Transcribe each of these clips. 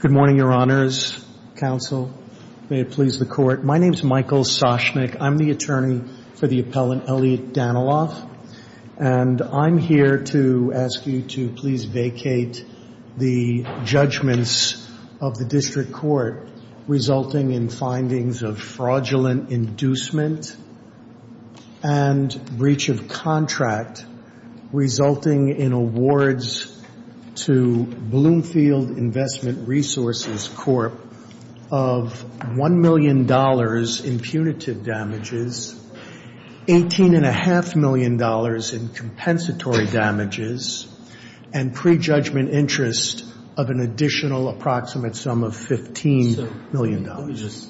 Good morning, Your Honors, Counsel. May it please the Court. My name is Michael Soshnick. I'm the attorney for the appellant, Elliot Daniloff, and I'm here to ask you to please vacate the judgments of the District Court resulting in findings of fraudulent inducement and breach of contract resulting in awards to Bloomfield Investment Resources Corp. of $1 million in punitive damages, $18.5 million in compensatory damages, and pre-judgment interest of an additional approximate sum of $15 million. Let me just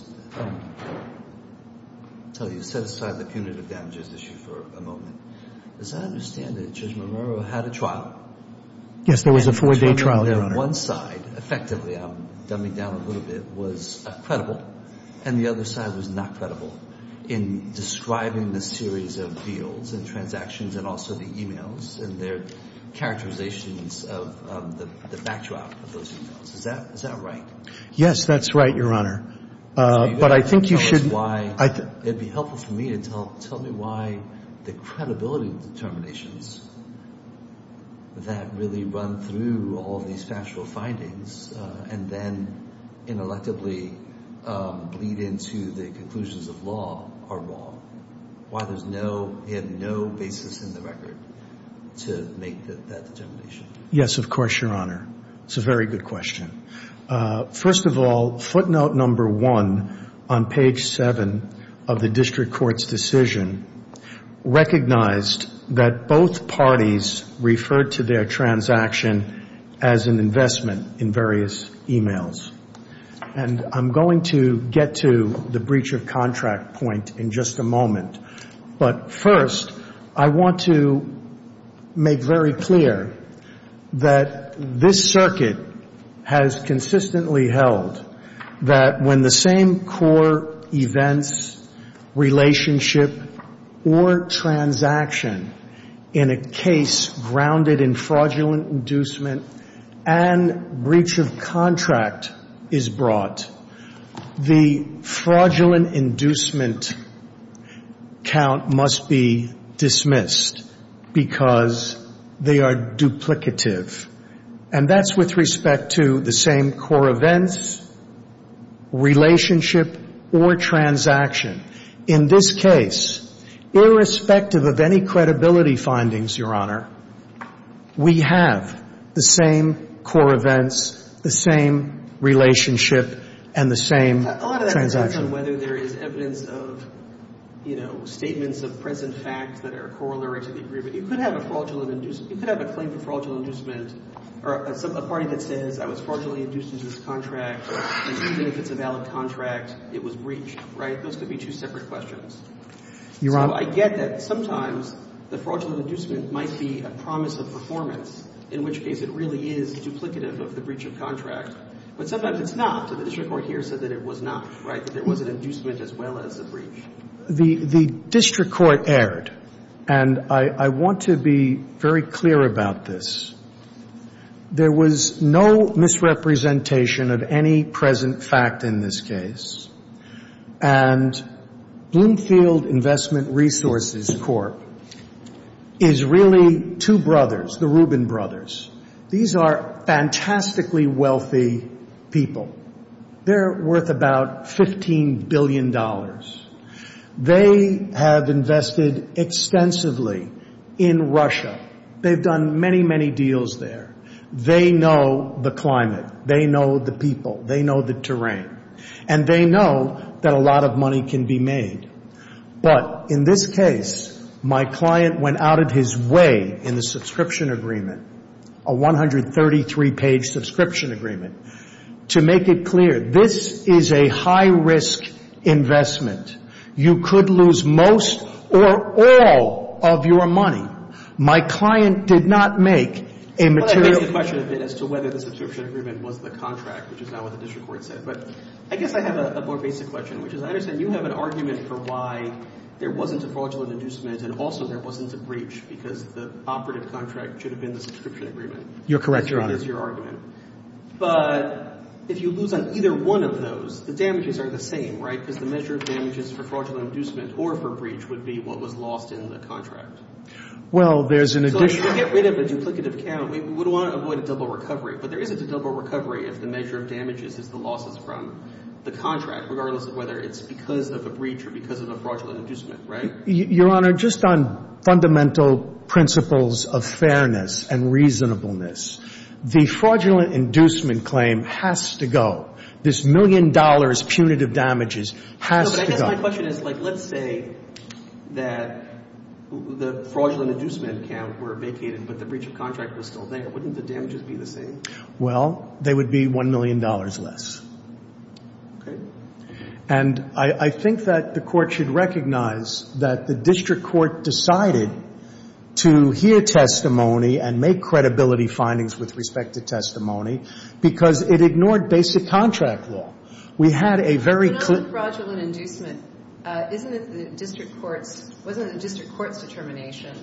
tell you, set aside the punitive damages issue for a moment. As I understand it, Judge Marrero had a trial. Yes, there was a four-day trial, Your Honor. One side, effectively, I'm dumbing down a little bit, was credible, and the other side was not credible, in describing the series of deals and transactions and also the emails and their characterizations of the backdrop of those emails. Is that right? Yes, that's right, Your Honor. But I think you should – It would be helpful for me to tell me why the credibility determinations that really run through all these factual findings and then, ineluctably, bleed into the conclusions of law are wrong. Why there's no – he had no basis in the record to make that determination. Yes, of course, Your Honor. It's a very good question. First of all, footnote number one on page seven of the district court's decision recognized that both parties referred to their transaction as an investment in various emails. And I'm going to get to the breach of contract point in just a moment. But first, I want to make very clear that this circuit has consistently held that when the same core events, relationship, or transaction in a case grounded in fraudulent inducement and breach of contract is brought, the fraudulent inducement count must be dismissed because they are duplicative. And that's with respect to the same core events, relationship, or transaction. In this case, irrespective of any credibility findings, Your Honor, we have the same core events, the same relationship, and the same transaction. A lot of that depends on whether there is evidence of, you know, statements of present facts that are corollary to the agreement. You could have a fraudulent – you could have a claim for fraudulent inducement or a party that says I was fraudulently induced into this contract and even if it's a valid contract, it was breached, right? Those could be two separate questions. Your Honor. So I get that sometimes the fraudulent inducement might be a promise of performance, in which case it really is duplicative of the breach of contract. But sometimes it's not. So the district court here said that it was not, right? That there was an inducement as well as a breach. The district court erred. And I want to be very clear about this. There was no misrepresentation of any present fact in this case. And Bloomfield Investment Resources Corp. is really two brothers, the Rubin brothers. These are fantastically wealthy people. They're worth about $15 billion. They have invested extensively in Russia. They've done many, many deals there. They know the climate. They know the people. They know the terrain. And they know that a lot of money can be made. But in this case, my client went out of his way in the subscription agreement, a 133-page subscription agreement, to make it clear this is a high-risk investment. You could lose most or all of your money. My client did not make a material contract. So I'm just going to go back to the first question, which is, And you have the opportunity to add as to whether the subscription agreement was the contract, which is not what the district court said. But I guess I have a more basic question, which is, I understand you have an argument for why there wasn't a fraudulent inducement. And also, there wasn't a breach because the operative contract should have been the subscription agreement. You're correct, Your Honor. At least that's your argument. But if you lose on either one of those, the damages are the same, right? But there isn't a double recovery if the measure of damages is the losses from the contract, regardless of whether it's because of a breach or because of a fraudulent inducement, right? Your Honor, just on fundamental principles of fairness and reasonableness, the fraudulent inducement claim has to go. This million dollars punitive damages has to go. No, but I guess my question is, like, let's say that the fraudulent inducement account were vacated, but the breach of contract was still there. Wouldn't the damages be the same? Well, they would be $1 million less. Okay. And I think that the Court should recognize that the district court decided to hear testimony and make credibility findings with respect to testimony because it ignored basic contract law. We had a very clear – But on the fraudulent inducement, isn't it the district court's – wasn't it the district court's determination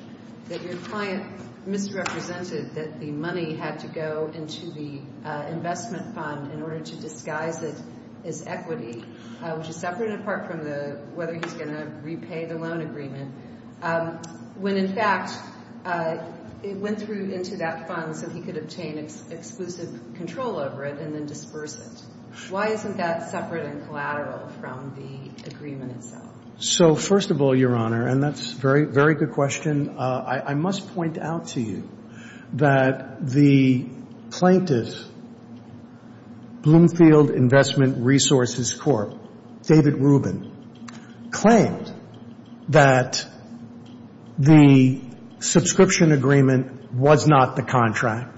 that your client misrepresented that the money had to go into the investment fund in order to disguise it as equity, which is separate and apart from the – whether he's going to repay the loan agreement, when, in fact, it went through into that fund so he could obtain exclusive control over it and then disperse it? Why isn't that separate and collateral from the agreement itself? So, first of all, Your Honor, and that's a very good question, I must point out to you that the plaintiff, Bloomfield Investment Resources Corp., David Rubin, claimed that the subscription agreement was not the contract.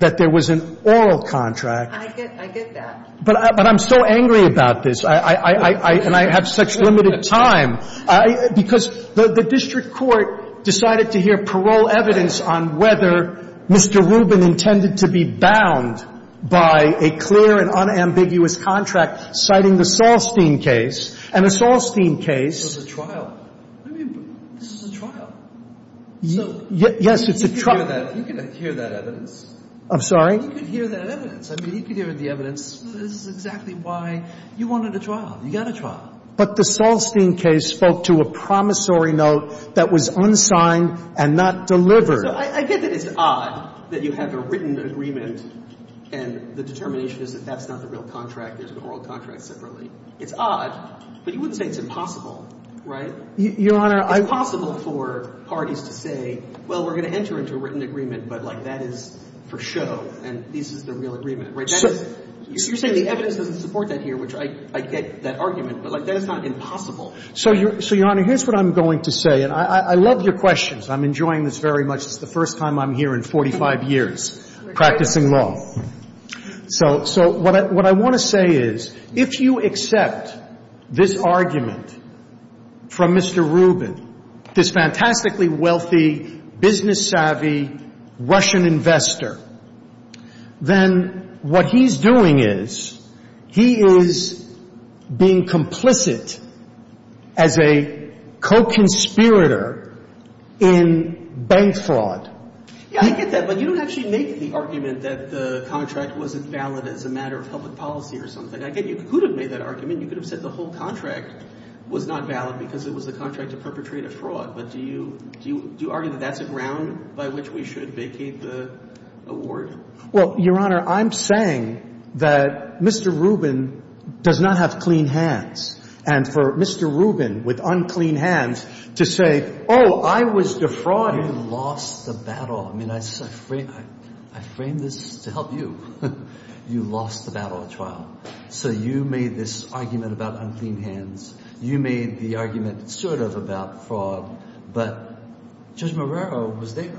That there was an oral contract. I get that. But I'm so angry about this, and I have such limited time, because the district court decided to hear parole evidence on whether Mr. Rubin intended to be bound by a clear and unambiguous contract citing the Saulstein case. And the Saulstein case – This was a trial. I mean, this was a trial. Yes, it's a trial. You can hear that evidence. I'm sorry? You can hear that evidence. I mean, you can hear the evidence. This is exactly why you wanted a trial. You got a trial. But the Saulstein case spoke to a promissory note that was unsigned and not delivered. I get that it's odd that you have a written agreement, and the determination is that that's not the real contract, there's an oral contract separately. It's odd, but you wouldn't say it's impossible, right? Your Honor, I – So you're saying the evidence doesn't support that here, which I get that argument, but, like, that is not impossible. So, Your Honor, here's what I'm going to say, and I love your questions. I'm enjoying this very much. This is the first time I'm here in 45 years practicing law. So what I want to say is, if you accept this argument from Mr. Rubin, this fantastically wealthy, business-savvy Russian investor, then what he's doing is he is being complicit as a co-conspirator in bank fraud. Yeah, I get that, but you don't actually make the argument that the contract wasn't valid as a matter of public policy or something. I get you. Who would have made that argument? I mean, you could have said the whole contract was not valid because it was the contract to perpetrate a fraud, but do you argue that that's a ground by which we should vacate the award? Well, Your Honor, I'm saying that Mr. Rubin does not have clean hands, and for Mr. Rubin, with unclean hands, to say, oh, I was defrauding. You lost the battle. I mean, I frame this to help you. You lost the battle at trial. So you made this argument about unclean hands. You made the argument sort of about fraud, but Judge Marrero was there.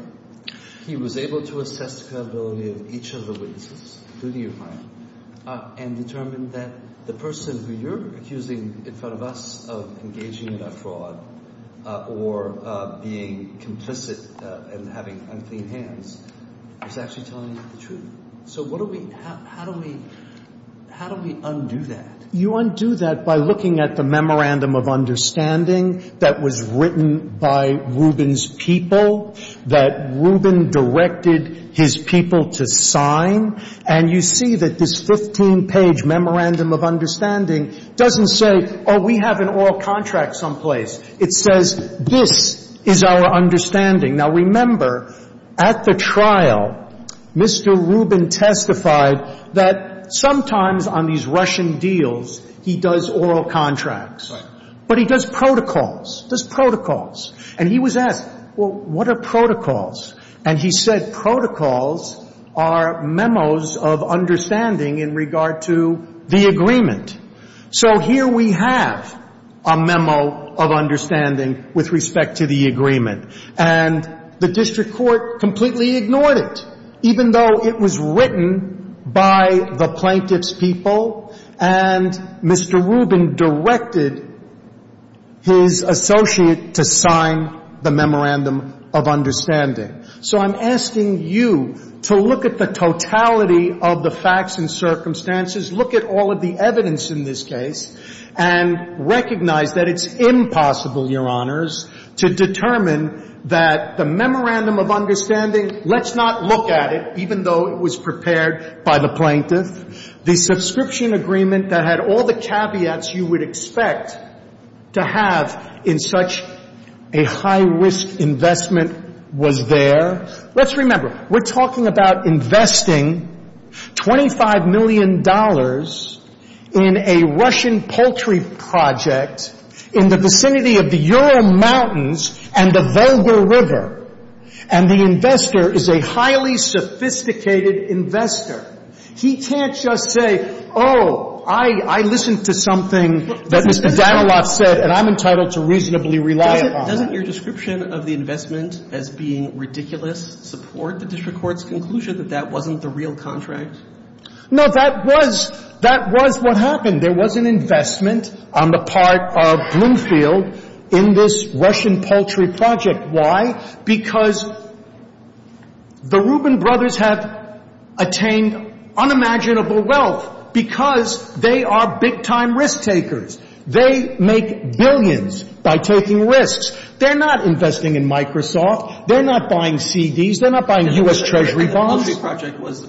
He was able to assess the credibility of each of the witnesses, including your client, and determined that the person who you're accusing in front of us of engaging in a fraud or being complicit and having unclean hands is actually telling the truth. So how do we undo that? You undo that by looking at the memorandum of understanding that was written by Rubin's people, that Rubin directed his people to sign, and you see that this 15-page memorandum of understanding doesn't say, oh, we have an oral contract someplace. It says this is our understanding. Now, remember, at the trial, Mr. Rubin testified that sometimes on these Russian deals, he does oral contracts, but he does protocols, does protocols. And he was asked, well, what are protocols? And he said protocols are memos of understanding in regard to the agreement. So here we have a memo of understanding with respect to the agreement. And the district court completely ignored it, even though it was written by the plaintiff's people, and Mr. Rubin directed his associate to sign the memorandum of understanding. So I'm asking you to look at the totality of the facts and circumstances, look at all of the evidence in this case, and recognize that it's impossible, Your Honors, to determine that the memorandum of understanding, let's not look at it, even though it was prepared by the plaintiff. The subscription agreement that had all the caveats you would expect to have in such a high-risk investment was there. Let's remember, we're talking about investing $25 million in a Russian poultry project in the vicinity of the Ural Mountains and the Volga River. And the investor is a highly sophisticated investor. He can't just say, oh, I listened to something that Mr. Danilov said, and I'm entitled to reasonably rely upon that. Doesn't your description of the investment as being ridiculous support the district court's conclusion that that wasn't the real contract? No, that was what happened. There was an investment on the part of Bloomfield in this Russian poultry project. Why? Because the Rubin brothers have attained unimaginable wealth because they are big-time risk-takers. They make billions by taking risks. They're not investing in Microsoft. They're not buying CDs. They're not buying U.S. Treasury bonds. The poultry project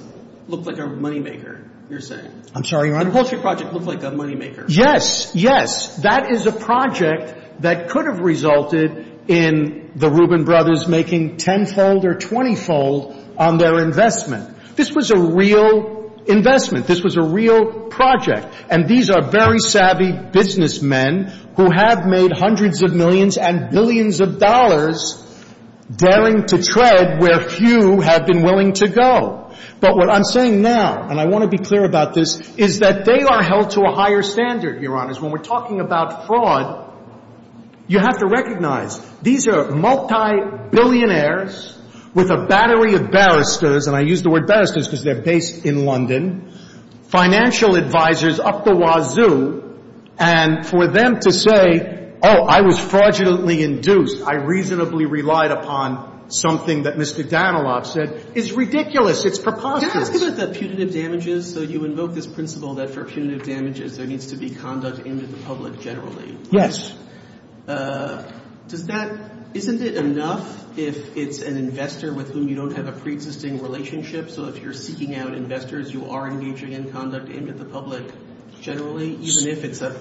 looked like a moneymaker, you're saying. I'm sorry, Your Honor? The poultry project looked like a moneymaker. Yes, yes. That is a project that could have resulted in the Rubin brothers making tenfold or twentyfold on their investment. This was a real investment. This was a real project. And these are very savvy businessmen who have made hundreds of millions and billions of dollars daring to tread where few have been willing to go. But what I'm saying now, and I want to be clear about this, is that they are held to a higher standard, Your Honors. When we're talking about fraud, you have to recognize these are multi-billionaires with a battery of barristers. And I use the word barristers because they're based in London. Financial advisors up the wazoo. And for them to say, oh, I was fraudulently induced, I reasonably relied upon something that Mr. Danilov said, is ridiculous. It's preposterous. Can I ask about the punitive damages? So you invoke this principle that for punitive damages there needs to be conduct aimed at the public generally. Yes. Does that – isn't it enough if it's an investor with whom you don't have a preexisting relationship? So if you're seeking out investors, you are engaging in conduct aimed at the public generally? Even if it's a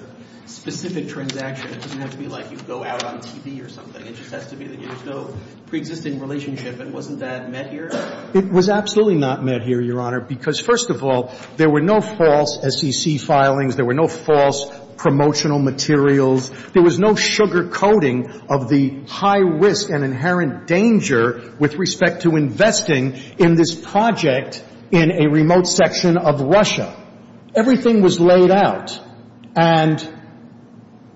specific transaction, it doesn't have to be like you go out on TV or something. It just has to be that there's no preexisting relationship. And wasn't that met here? It was absolutely not met here, Your Honor, because, first of all, there were no false SEC filings. There were no false promotional materials. There was no sugarcoating of the high risk and inherent danger with respect to investing in this project in a remote section of Russia. Everything was laid out. And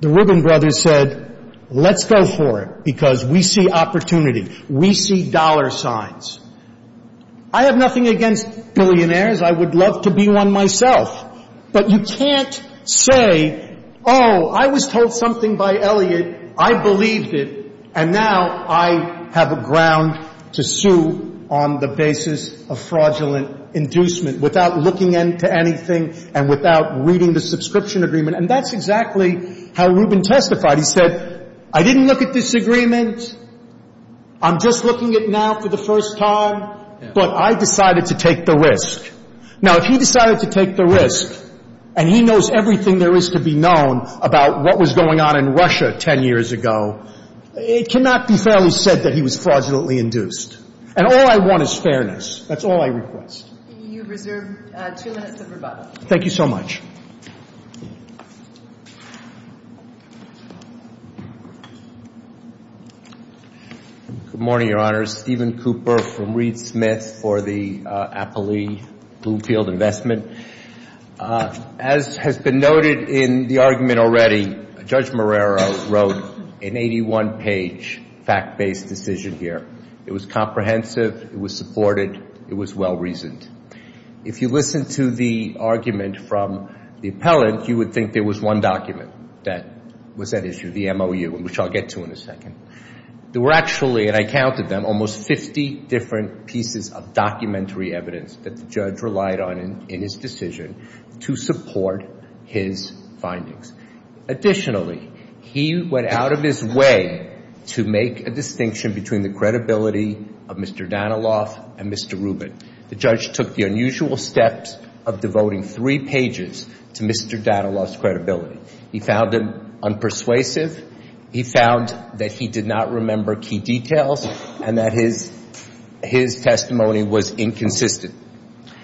the Ribbon Brothers said, let's go for it because we see opportunity. We see dollar signs. I have nothing against billionaires. I would love to be one myself. But you can't say, oh, I was told something by Elliot, I believed it, and now I have a ground to sue on the basis of fraudulent inducement without looking into anything and without reading the subscription agreement. And that's exactly how Rubin testified. He said, I didn't look at this agreement. I'm just looking at it now for the first time, but I decided to take the risk. Now, if he decided to take the risk and he knows everything there is to be known about what was going on in Russia 10 years ago, it cannot be fairly said that he was fraudulently induced. And all I want is fairness. That's all I request. You reserve two minutes of rebuttal. Thank you so much. Good morning, Your Honors. Stephen Cooper from Reed Smith for the Appley Bloomfield Investment. As has been noted in the argument already, Judge Marrero wrote an 81-page fact-based decision here. It was comprehensive. It was supported. It was well-reasoned. If you listen to the argument from the appellant, you would think there was one document that was at issue, the MOU, which I'll get to in a second. There were actually, and I counted them, almost 50 different pieces of documentary evidence that the judge relied on in his decision to support his findings. Additionally, he went out of his way to make a distinction between the credibility of Mr. Danilov and Mr. Rubin. The judge took the unusual steps of devoting three pages to Mr. Danilov's credibility. He found them unpersuasive. He found that he did not remember key details and that his testimony was inconsistent.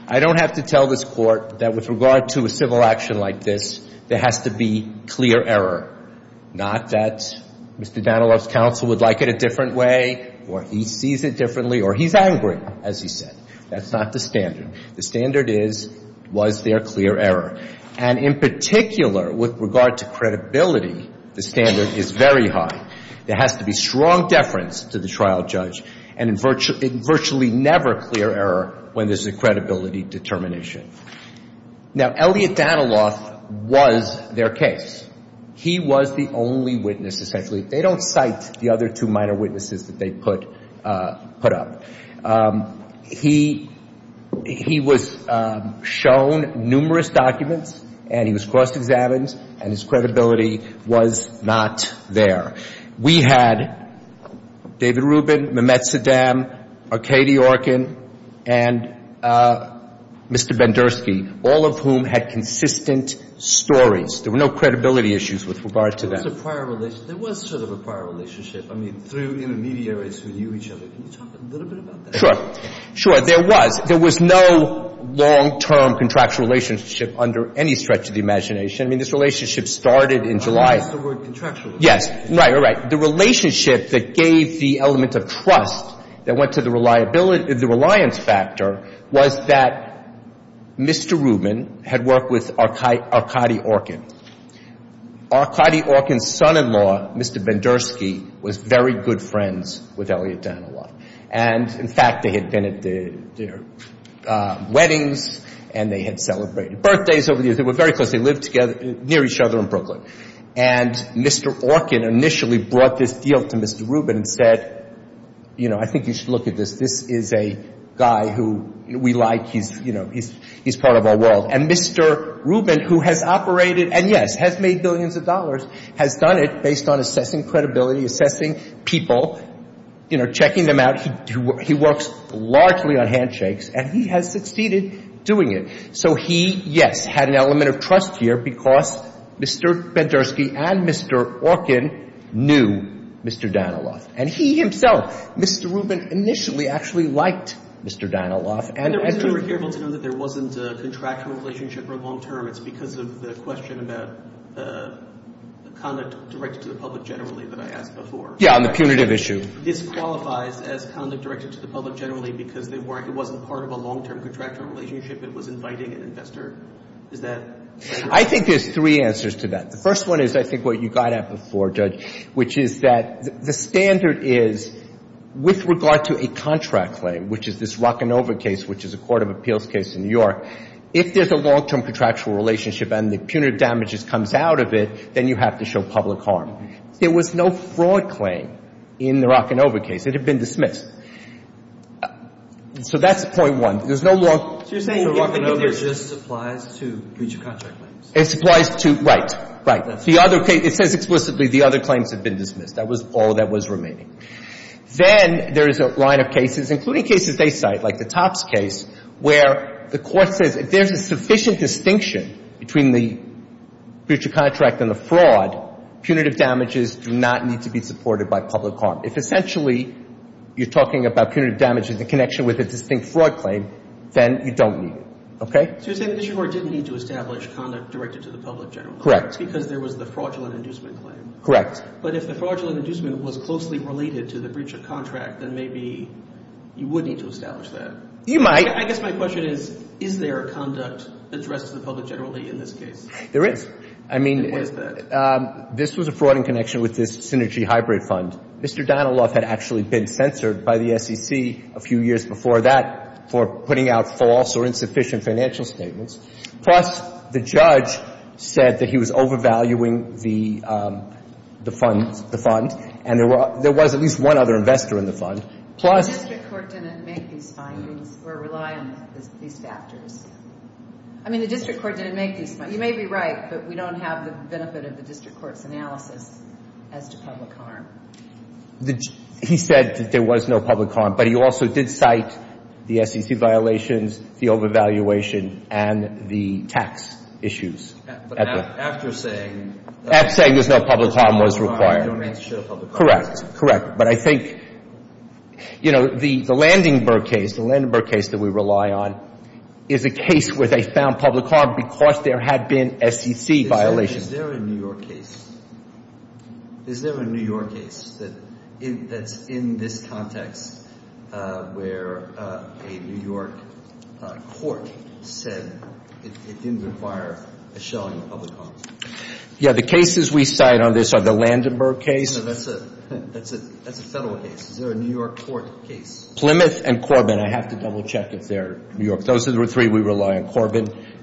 I don't have to tell this Court that with regard to a civil action like this, there has to be clear error, not that Mr. Danilov's counsel would like it a different way or he sees it differently or he's angry, as he said. That's not the standard. The standard is, was there clear error? And in particular, with regard to credibility, the standard is very high. There has to be strong deference to the trial judge and virtually never clear error when there's a credibility determination. Now, Elliot Danilov was their case. He was the only witness, essentially. They don't cite the other two minor witnesses that they put up. He was shown numerous documents, and he was cross-examined, and his credibility was not there. We had David Rubin, Mehmet Saddam, Arkady Orkin, and Mr. Bendersky, all of whom had consistent stories. There were no credibility issues with regard to them. There was sort of a prior relationship. I mean, through intermediaries who knew each other. Can you talk a little bit about that? Sure. Sure, there was. There was no long-term contractual relationship under any stretch of the imagination. I mean, this relationship started in July. I think that's the word contractual. Yes, right, right. The relationship that gave the element of trust that went to the reliance factor was that Mr. Rubin had worked with Arkady Orkin. Arkady Orkin's son-in-law, Mr. Bendersky, was very good friends with Elliot Danilov. And, in fact, they had been at their weddings, and they had celebrated birthdays over the years. They were very close. They lived near each other in Brooklyn. And Mr. Orkin initially brought this deal to Mr. Rubin and said, you know, I think you should look at this. This is a guy who we like. He's part of our world. And Mr. Rubin, who has operated and, yes, has made billions of dollars, has done it based on assessing credibility, assessing people, you know, checking them out. He works largely on handshakes, and he has succeeded doing it. So he, yes, had an element of trust here because Mr. Bendersky and Mr. Orkin knew Mr. Danilov. And he himself, Mr. Rubin initially actually liked Mr. Danilov. And the reason we were here was to know that there wasn't a contractual relationship or long-term, it's because of the question about conduct directed to the public generally that I asked before. Yeah, on the punitive issue. This qualifies as conduct directed to the public generally because it wasn't part of a long-term contractual relationship. It was inviting an investor. Is that correct? I think there's three answers to that. Which is that the standard is with regard to a contract claim, which is this Rocanova case, which is a court of appeals case in New York, if there's a long-term contractual relationship and the punitive damages comes out of it, then you have to show public harm. There was no fraud claim in the Rocanova case. It had been dismissed. So that's point one. There's no long- So you're saying if there's just supplies to breach of contract claims. Supplies to, right, right. It says explicitly the other claims have been dismissed. That was all that was remaining. Then there is a line of cases, including cases they cite, like the Topps case, where the court says if there's a sufficient distinction between the breach of contract and the fraud, punitive damages do not need to be supported by public harm. If essentially you're talking about punitive damages in connection with a distinct fraud claim, then you don't need it. Okay? So you're saying the district court didn't need to establish conduct directed to the public generally. Correct. Because there was the fraudulent inducement claim. Correct. But if the fraudulent inducement was closely related to the breach of contract, then maybe you would need to establish that. You might. I guess my question is, is there a conduct addressed to the public generally in this case? There is. I mean- And what is that? This was a fraud in connection with this Synergy Hybrid Fund. Mr. Donilov had actually been censored by the SEC a few years before that for putting out false or insufficient financial statements. Plus, the judge said that he was overvaluing the fund, and there was at least one other investor in the fund. Plus- The district court didn't make these findings or rely on these factors. I mean, the district court didn't make these- You may be right, but we don't have the benefit of the district court's analysis as to public harm. He said that there was no public harm, but he also did cite the SEC violations, the overvaluation, and the tax issues. But after saying- After saying there's no public harm was required. Correct. Correct. But I think, you know, the Landenberg case, the Landenberg case that we rely on, is a case where they found public harm because there had been SEC violations. Is there a New York case? Is there a New York case that's in this context where a New York court said it didn't require a showing of public harm? Yeah, the cases we cite on this are the Landenberg case- No, that's a federal case. Is there a New York court case? Plymouth and Corbin. I have to double-check if they're New York. Those are the three we rely on. Plymouth and Corbin.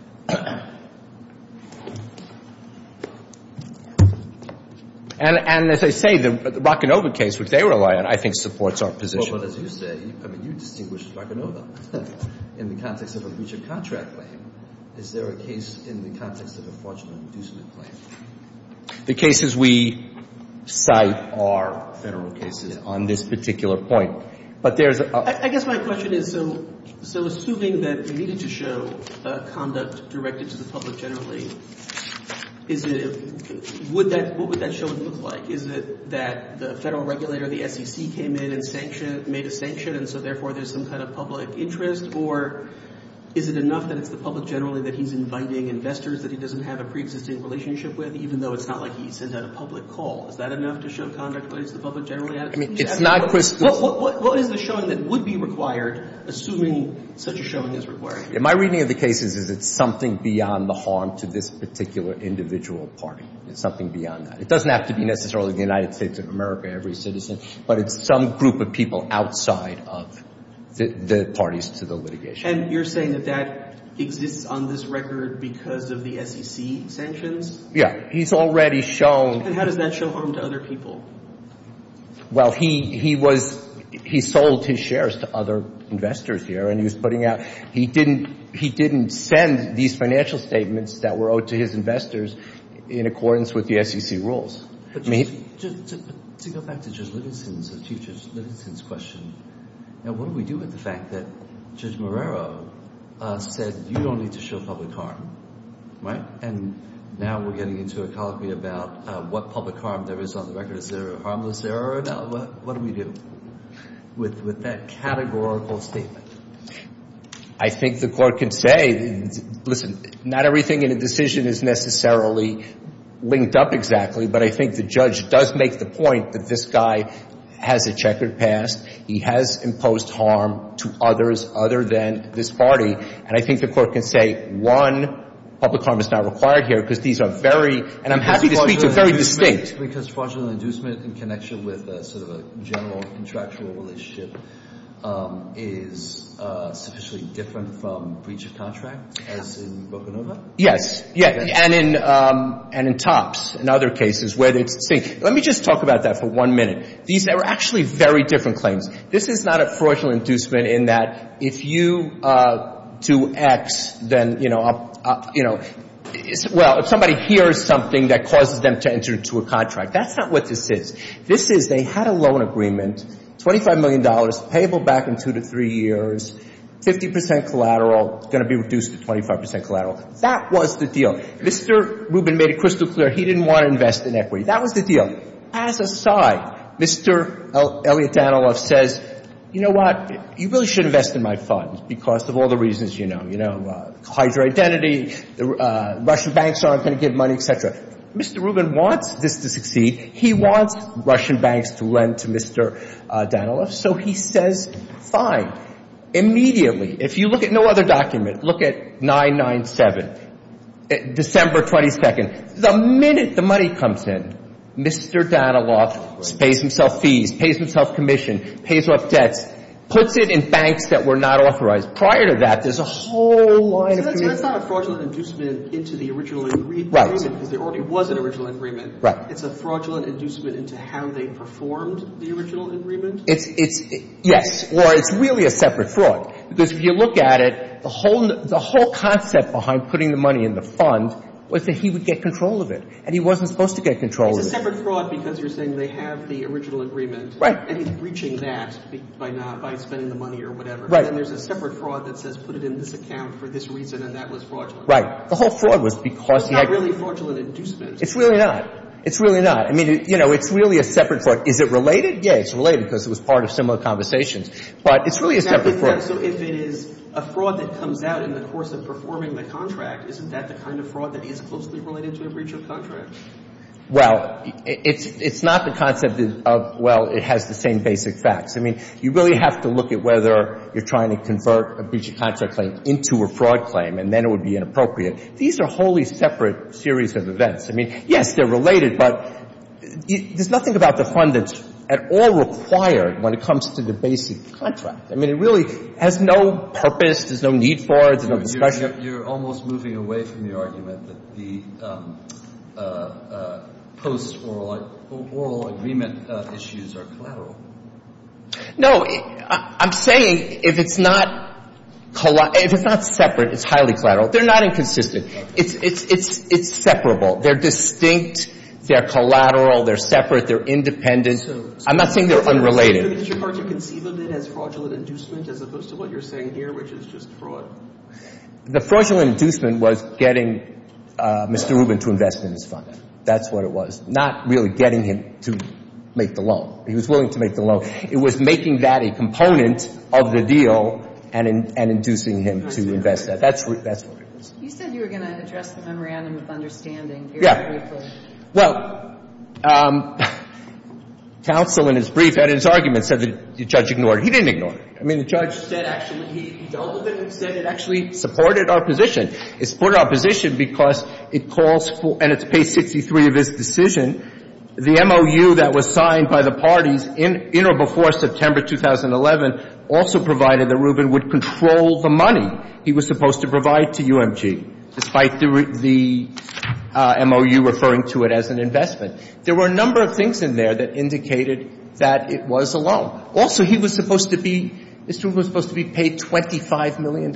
And as I say, the Rockenova case, which they rely on, I think supports our position. Well, as you say, I mean, you distinguished Rockenova. In the context of a breach of contract claim, is there a case in the context of a fraudulent inducement claim? The cases we cite are federal cases on this particular point. But there's a- I guess my question is, so assuming that they needed to show conduct directed to the public generally, what would that show look like? Is it that the federal regulator, the SEC, came in and made a sanction, and so therefore there's some kind of public interest? Or is it enough that it's the public generally that he's inviting investors that he doesn't have a preexisting relationship with, even though it's not like he sent out a public call? Is that enough to show conduct directed to the public generally? What is the showing that would be required, assuming such a showing is required? My reading of the case is it's something beyond the harm to this particular individual party. It's something beyond that. It doesn't have to be necessarily the United States of America, every citizen, but it's some group of people outside of the parties to the litigation. And you're saying that that exists on this record because of the SEC sanctions? Yeah. He's already shown- And how does that show harm to other people? Well, he sold his shares to other investors here, and he was putting out- he didn't send these financial statements that were owed to his investors in accordance with the SEC rules. To go back to Judge Livingston's question, what do we do with the fact that Judge Marrero said you don't need to show public harm, right? And now we're getting into a colloquy about what public harm there is on the record. Is there a harmless error or not? What do we do with that categorical statement? I think the court can say, listen, not everything in a decision is necessarily linked up exactly, but I think the judge does make the point that this guy has a checkered past. He has imposed harm to others other than this party. And I think the court can say, one, public harm is not required here because these are very- And I'm happy to speak to very distinct- Because fraudulent inducement in connection with sort of a general contractual relationship is sufficiently different from breach of contract, as in Boko Nova? Yes. And in TOPS and other cases where it's the same. Let me just talk about that for one minute. These are actually very different claims. This is not a fraudulent inducement in that if you do X, then, you know, well, if somebody hears something that causes them to enter into a contract. That's not what this is. This is they had a loan agreement, $25 million, payable back in two to three years, 50 percent collateral, going to be reduced to 25 percent collateral. That was the deal. Mr. Rubin made it crystal clear he didn't want to invest in equity. That was the deal. Mr. Elliott Danilov says, you know what, you really should invest in my funds because of all the reasons you know. You know, Hydra Identity, Russian banks aren't going to give money, et cetera. Mr. Rubin wants this to succeed. He wants Russian banks to lend to Mr. Danilov. So he says, fine. Immediately, if you look at no other document, look at 997, December 22nd. The minute the money comes in, Mr. Danilov pays himself fees, pays himself commission, pays off debts, puts it in banks that were not authorized. Prior to that, there's a whole line of agreement. So that's not a fraudulent inducement into the original agreement because there already was an original agreement. Right. It's a fraudulent inducement into how they performed the original agreement? Yes. Or it's really a separate fraud because if you look at it, the whole concept behind putting the money in the fund was that he would get control of it, and he wasn't supposed to get control of it. It's a separate fraud because you're saying they have the original agreement. Right. And he's breaching that by spending the money or whatever. Right. And there's a separate fraud that says put it in this account for this reason, and that was fraudulent. Right. The whole fraud was because he had – It's not really a fraudulent inducement. It's really not. It's really not. I mean, you know, it's really a separate fraud. Is it related? Yeah, it's related because it was part of similar conversations. But it's really a separate fraud. So if it is a fraud that comes out in the course of performing the contract, isn't that the kind of fraud that is closely related to a breach of contract? Well, it's not the concept of, well, it has the same basic facts. I mean, you really have to look at whether you're trying to convert a breach of contract claim into a fraud claim, and then it would be inappropriate. These are wholly separate series of events. I mean, yes, they're related, but there's nothing about the fund that's at all required when it comes to the basic contract. I mean, it really has no purpose. There's no need for it. There's no discussion. You're almost moving away from the argument that the post-oral agreement issues are collateral. No. I'm saying if it's not separate, it's highly collateral. They're not inconsistent. It's separable. They're distinct. They're collateral. They're separate. They're independent. I'm not saying they're unrelated. Mr. Carter, you conceived of it as fraudulent inducement as opposed to what you're saying here, which is just fraud. The fraudulent inducement was getting Mr. Rubin to invest in his fund. That's what it was. Not really getting him to make the loan. He was willing to make the loan. It was making that a component of the deal and inducing him to invest that. That's what it was. You said you were going to address the memorandum of understanding very briefly. Yeah. Well, counsel in his brief had in his argument said the judge ignored it. He didn't ignore it. I mean, the judge said actually he dealt with it and said it actually supported our position. It supported our position because it calls for, and it's page 63 of his decision, the MOU that was signed by the parties in or before September 2011 also provided that Rubin would control the money he was supposed to provide to UMG, despite the MOU referring to it as an investment. There were a number of things in there that indicated that it was a loan. Also, he was supposed to be, Mr. Rubin was supposed to be paid $25 million.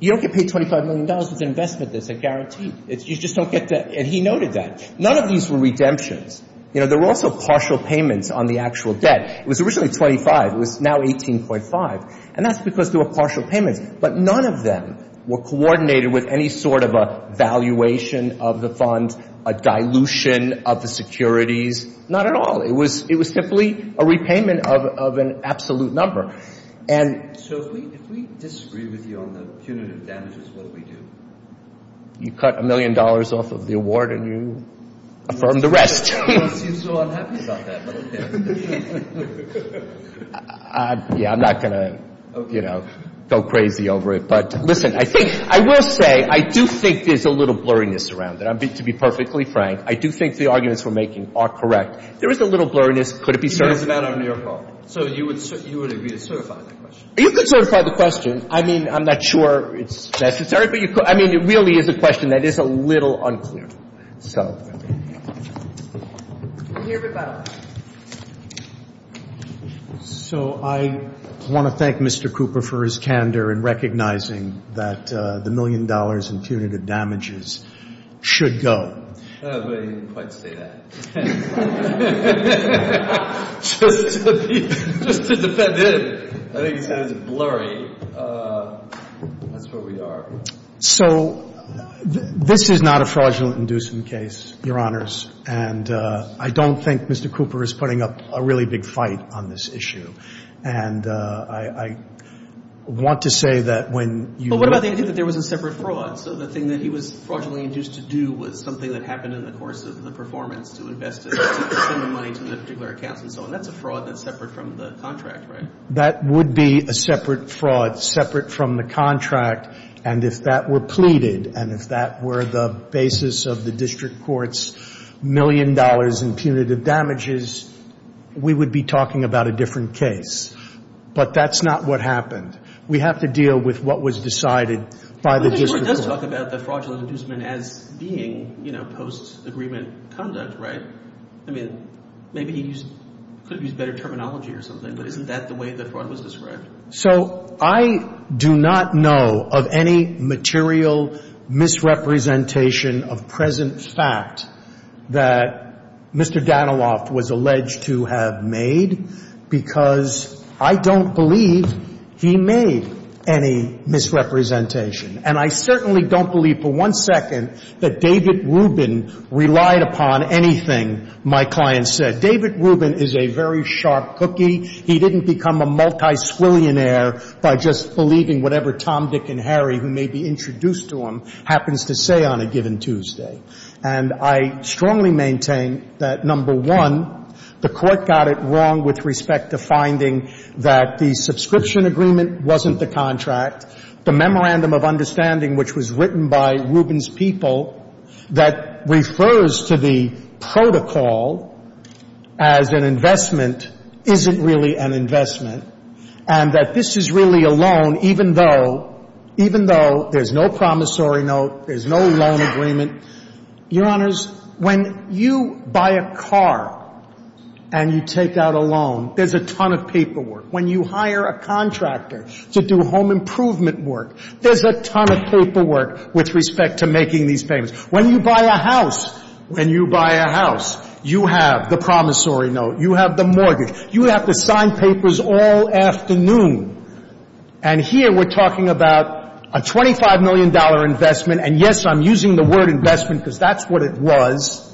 You don't get paid $25 million with an investment that's a guarantee. You just don't get that. And he noted that. None of these were redemptions. You know, there were also partial payments on the actual debt. It was originally 25. It was now 18.5. And that's because there were partial payments. But none of them were coordinated with any sort of a valuation of the fund, a dilution of the securities. Not at all. It was simply a repayment of an absolute number. So if we disagree with you on the punitive damages, what do we do? You cut a million dollars off of the award and you affirm the rest. You seem so unhappy about that. Yeah, I'm not going to, you know, go crazy over it. But, listen, I think I will say I do think there's a little blurriness around it. To be perfectly frank, I do think the arguments we're making are correct. There is a little blurriness. Could it be certified? So you would agree to certify that question? You could certify the question. I mean, I'm not sure it's necessary, but you could. I mean, it really is a question that is a little unclear. So I want to thank Mr. Cooper for his candor in recognizing that the million dollars in punitive damages should go. But he didn't quite say that. Just to defend him, I think he said it was blurry. That's where we are. So this is not a fraudulent inducement case, Your Honors. And I don't think Mr. Cooper is putting up a really big fight on this issue. And I want to say that when you look at it. But what about the idea that there was a separate fraud? So the thing that he was fraudulently induced to do was something that happened in the course of the performance to invest in, to send the money to the particular accounts and so on. That's a fraud that's separate from the contract, right? That would be a separate fraud, separate from the contract. And if that were pleaded and if that were the basis of the district court's million dollars in punitive damages, we would be talking about a different case. But that's not what happened. We have to deal with what was decided by the district court. But the court does talk about the fraudulent inducement as being, you know, post-agreement conduct, right? I mean, maybe he could have used better terminology or something, but isn't that the way the fraud was described? So I do not know of any material misrepresentation of present fact that Mr. Daniloff was alleged to have made because I don't believe he made any misrepresentation. And I certainly don't believe for one second that David Rubin relied upon anything my client said. David Rubin is a very sharp cookie. He didn't become a multisquillionaire by just believing whatever Tom, Dick, and Harry, who may be introduced to him, happens to say on a given Tuesday. And I strongly maintain that, number one, the court got it wrong with respect to finding that the subscription agreement wasn't the contract. The Memorandum of Understanding, which was written by Rubin's people, that refers to the protocol as an investment isn't really an investment and that this is really a loan even though there's no promissory note, there's no loan agreement. Your Honors, when you buy a car and you take out a loan, there's a ton of paperwork. When you hire a contractor to do home improvement work, there's a ton of paperwork with respect to making these payments. When you buy a house, when you buy a house, you have the promissory note. You have the mortgage. You have to sign papers all afternoon. And here we're talking about a $25 million investment. And, yes, I'm using the word investment because that's what it was.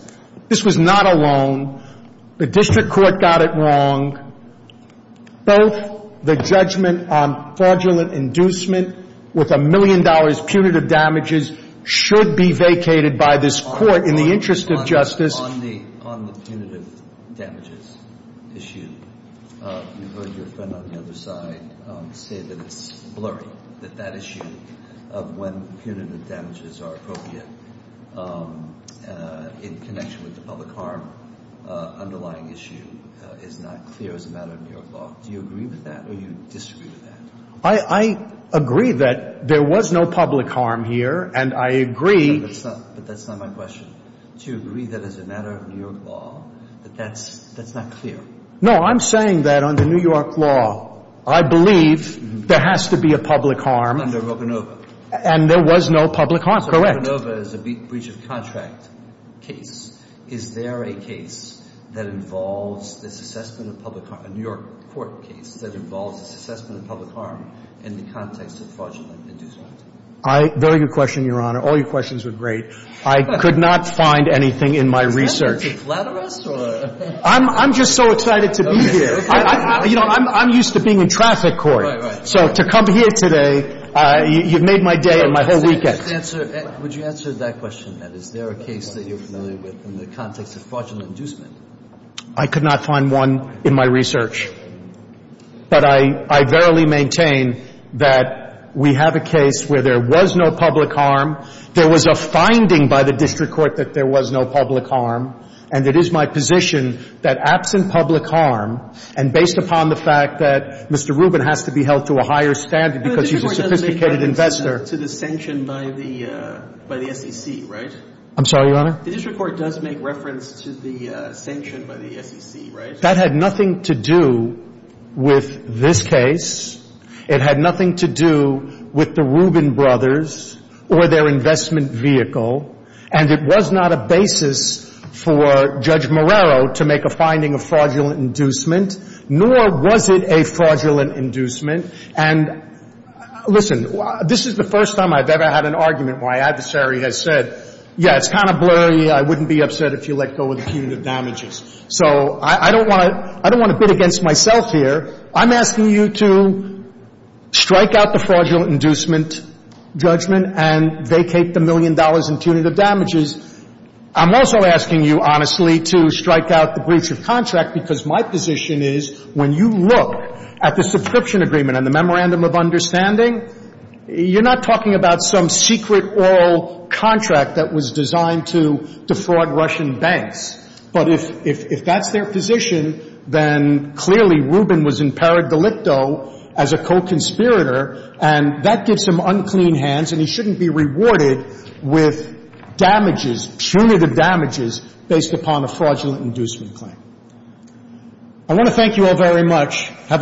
This was not a loan. The district court got it wrong. Both the judgment on fraudulent inducement with a million dollars punitive damages should be vacated by this court in the interest of justice. On the punitive damages issue, you heard your friend on the other side say that it's blurry, that that issue of when punitive damages are appropriate in connection with the public harm underlying issue is not clear as a matter of New York law. Do you agree with that or do you disagree with that? I agree that there was no public harm here, and I agree. But that's not my question. Do you agree that as a matter of New York law that that's not clear? No, I'm saying that under New York law, I believe there has to be a public harm. Under Rovanova. And there was no public harm, correct. So Rovanova is a breach of contract case. Is there a case that involves this assessment of public harm, a New York court case, that involves this assessment of public harm in the context of fraudulent inducement? Very good question, Your Honor. All your questions were great. I could not find anything in my research. Is that a flat arrest? I'm just so excited to be here. You know, I'm used to being in traffic court. Right, right. So to come here today, you've made my day and my whole weekend. Would you answer that question, then? Is there a case that you're familiar with in the context of fraudulent inducement? I could not find one in my research. But I verily maintain that we have a case where there was no public harm. There was a finding by the district court that there was no public harm. And it is my position that absent public harm, and based upon the fact that Mr. Rubin has to be held to a higher standard because he's a sophisticated investor to the sanction by the SEC, right? I'm sorry, Your Honor? The district court does make reference to the sanction by the SEC, right? That had nothing to do with this case. It had nothing to do with the Rubin brothers or their investment vehicle. And it was not a basis for Judge Marrero to make a finding of fraudulent inducement, nor was it a fraudulent inducement. And listen, this is the first time I've ever had an argument where my adversary has said, yeah, it's kind of blurry, I wouldn't be upset if you let go of the punitive damages. So I don't want to bid against myself here. I'm asking you to strike out the fraudulent inducement judgment and vacate the million dollars in punitive damages. I'm also asking you, honestly, to strike out the breach of contract because my position is when you look at the subscription agreement and the memorandum of understanding, you're not talking about some secret oral contract that was designed to defraud Russian banks. But if that's their position, then clearly Rubin was in peridolicto as a co-conspirator, and that gives him unclean hands, and he shouldn't be rewarded with damages, punitive damages based upon a fraudulent inducement claim. I want to thank you all very much.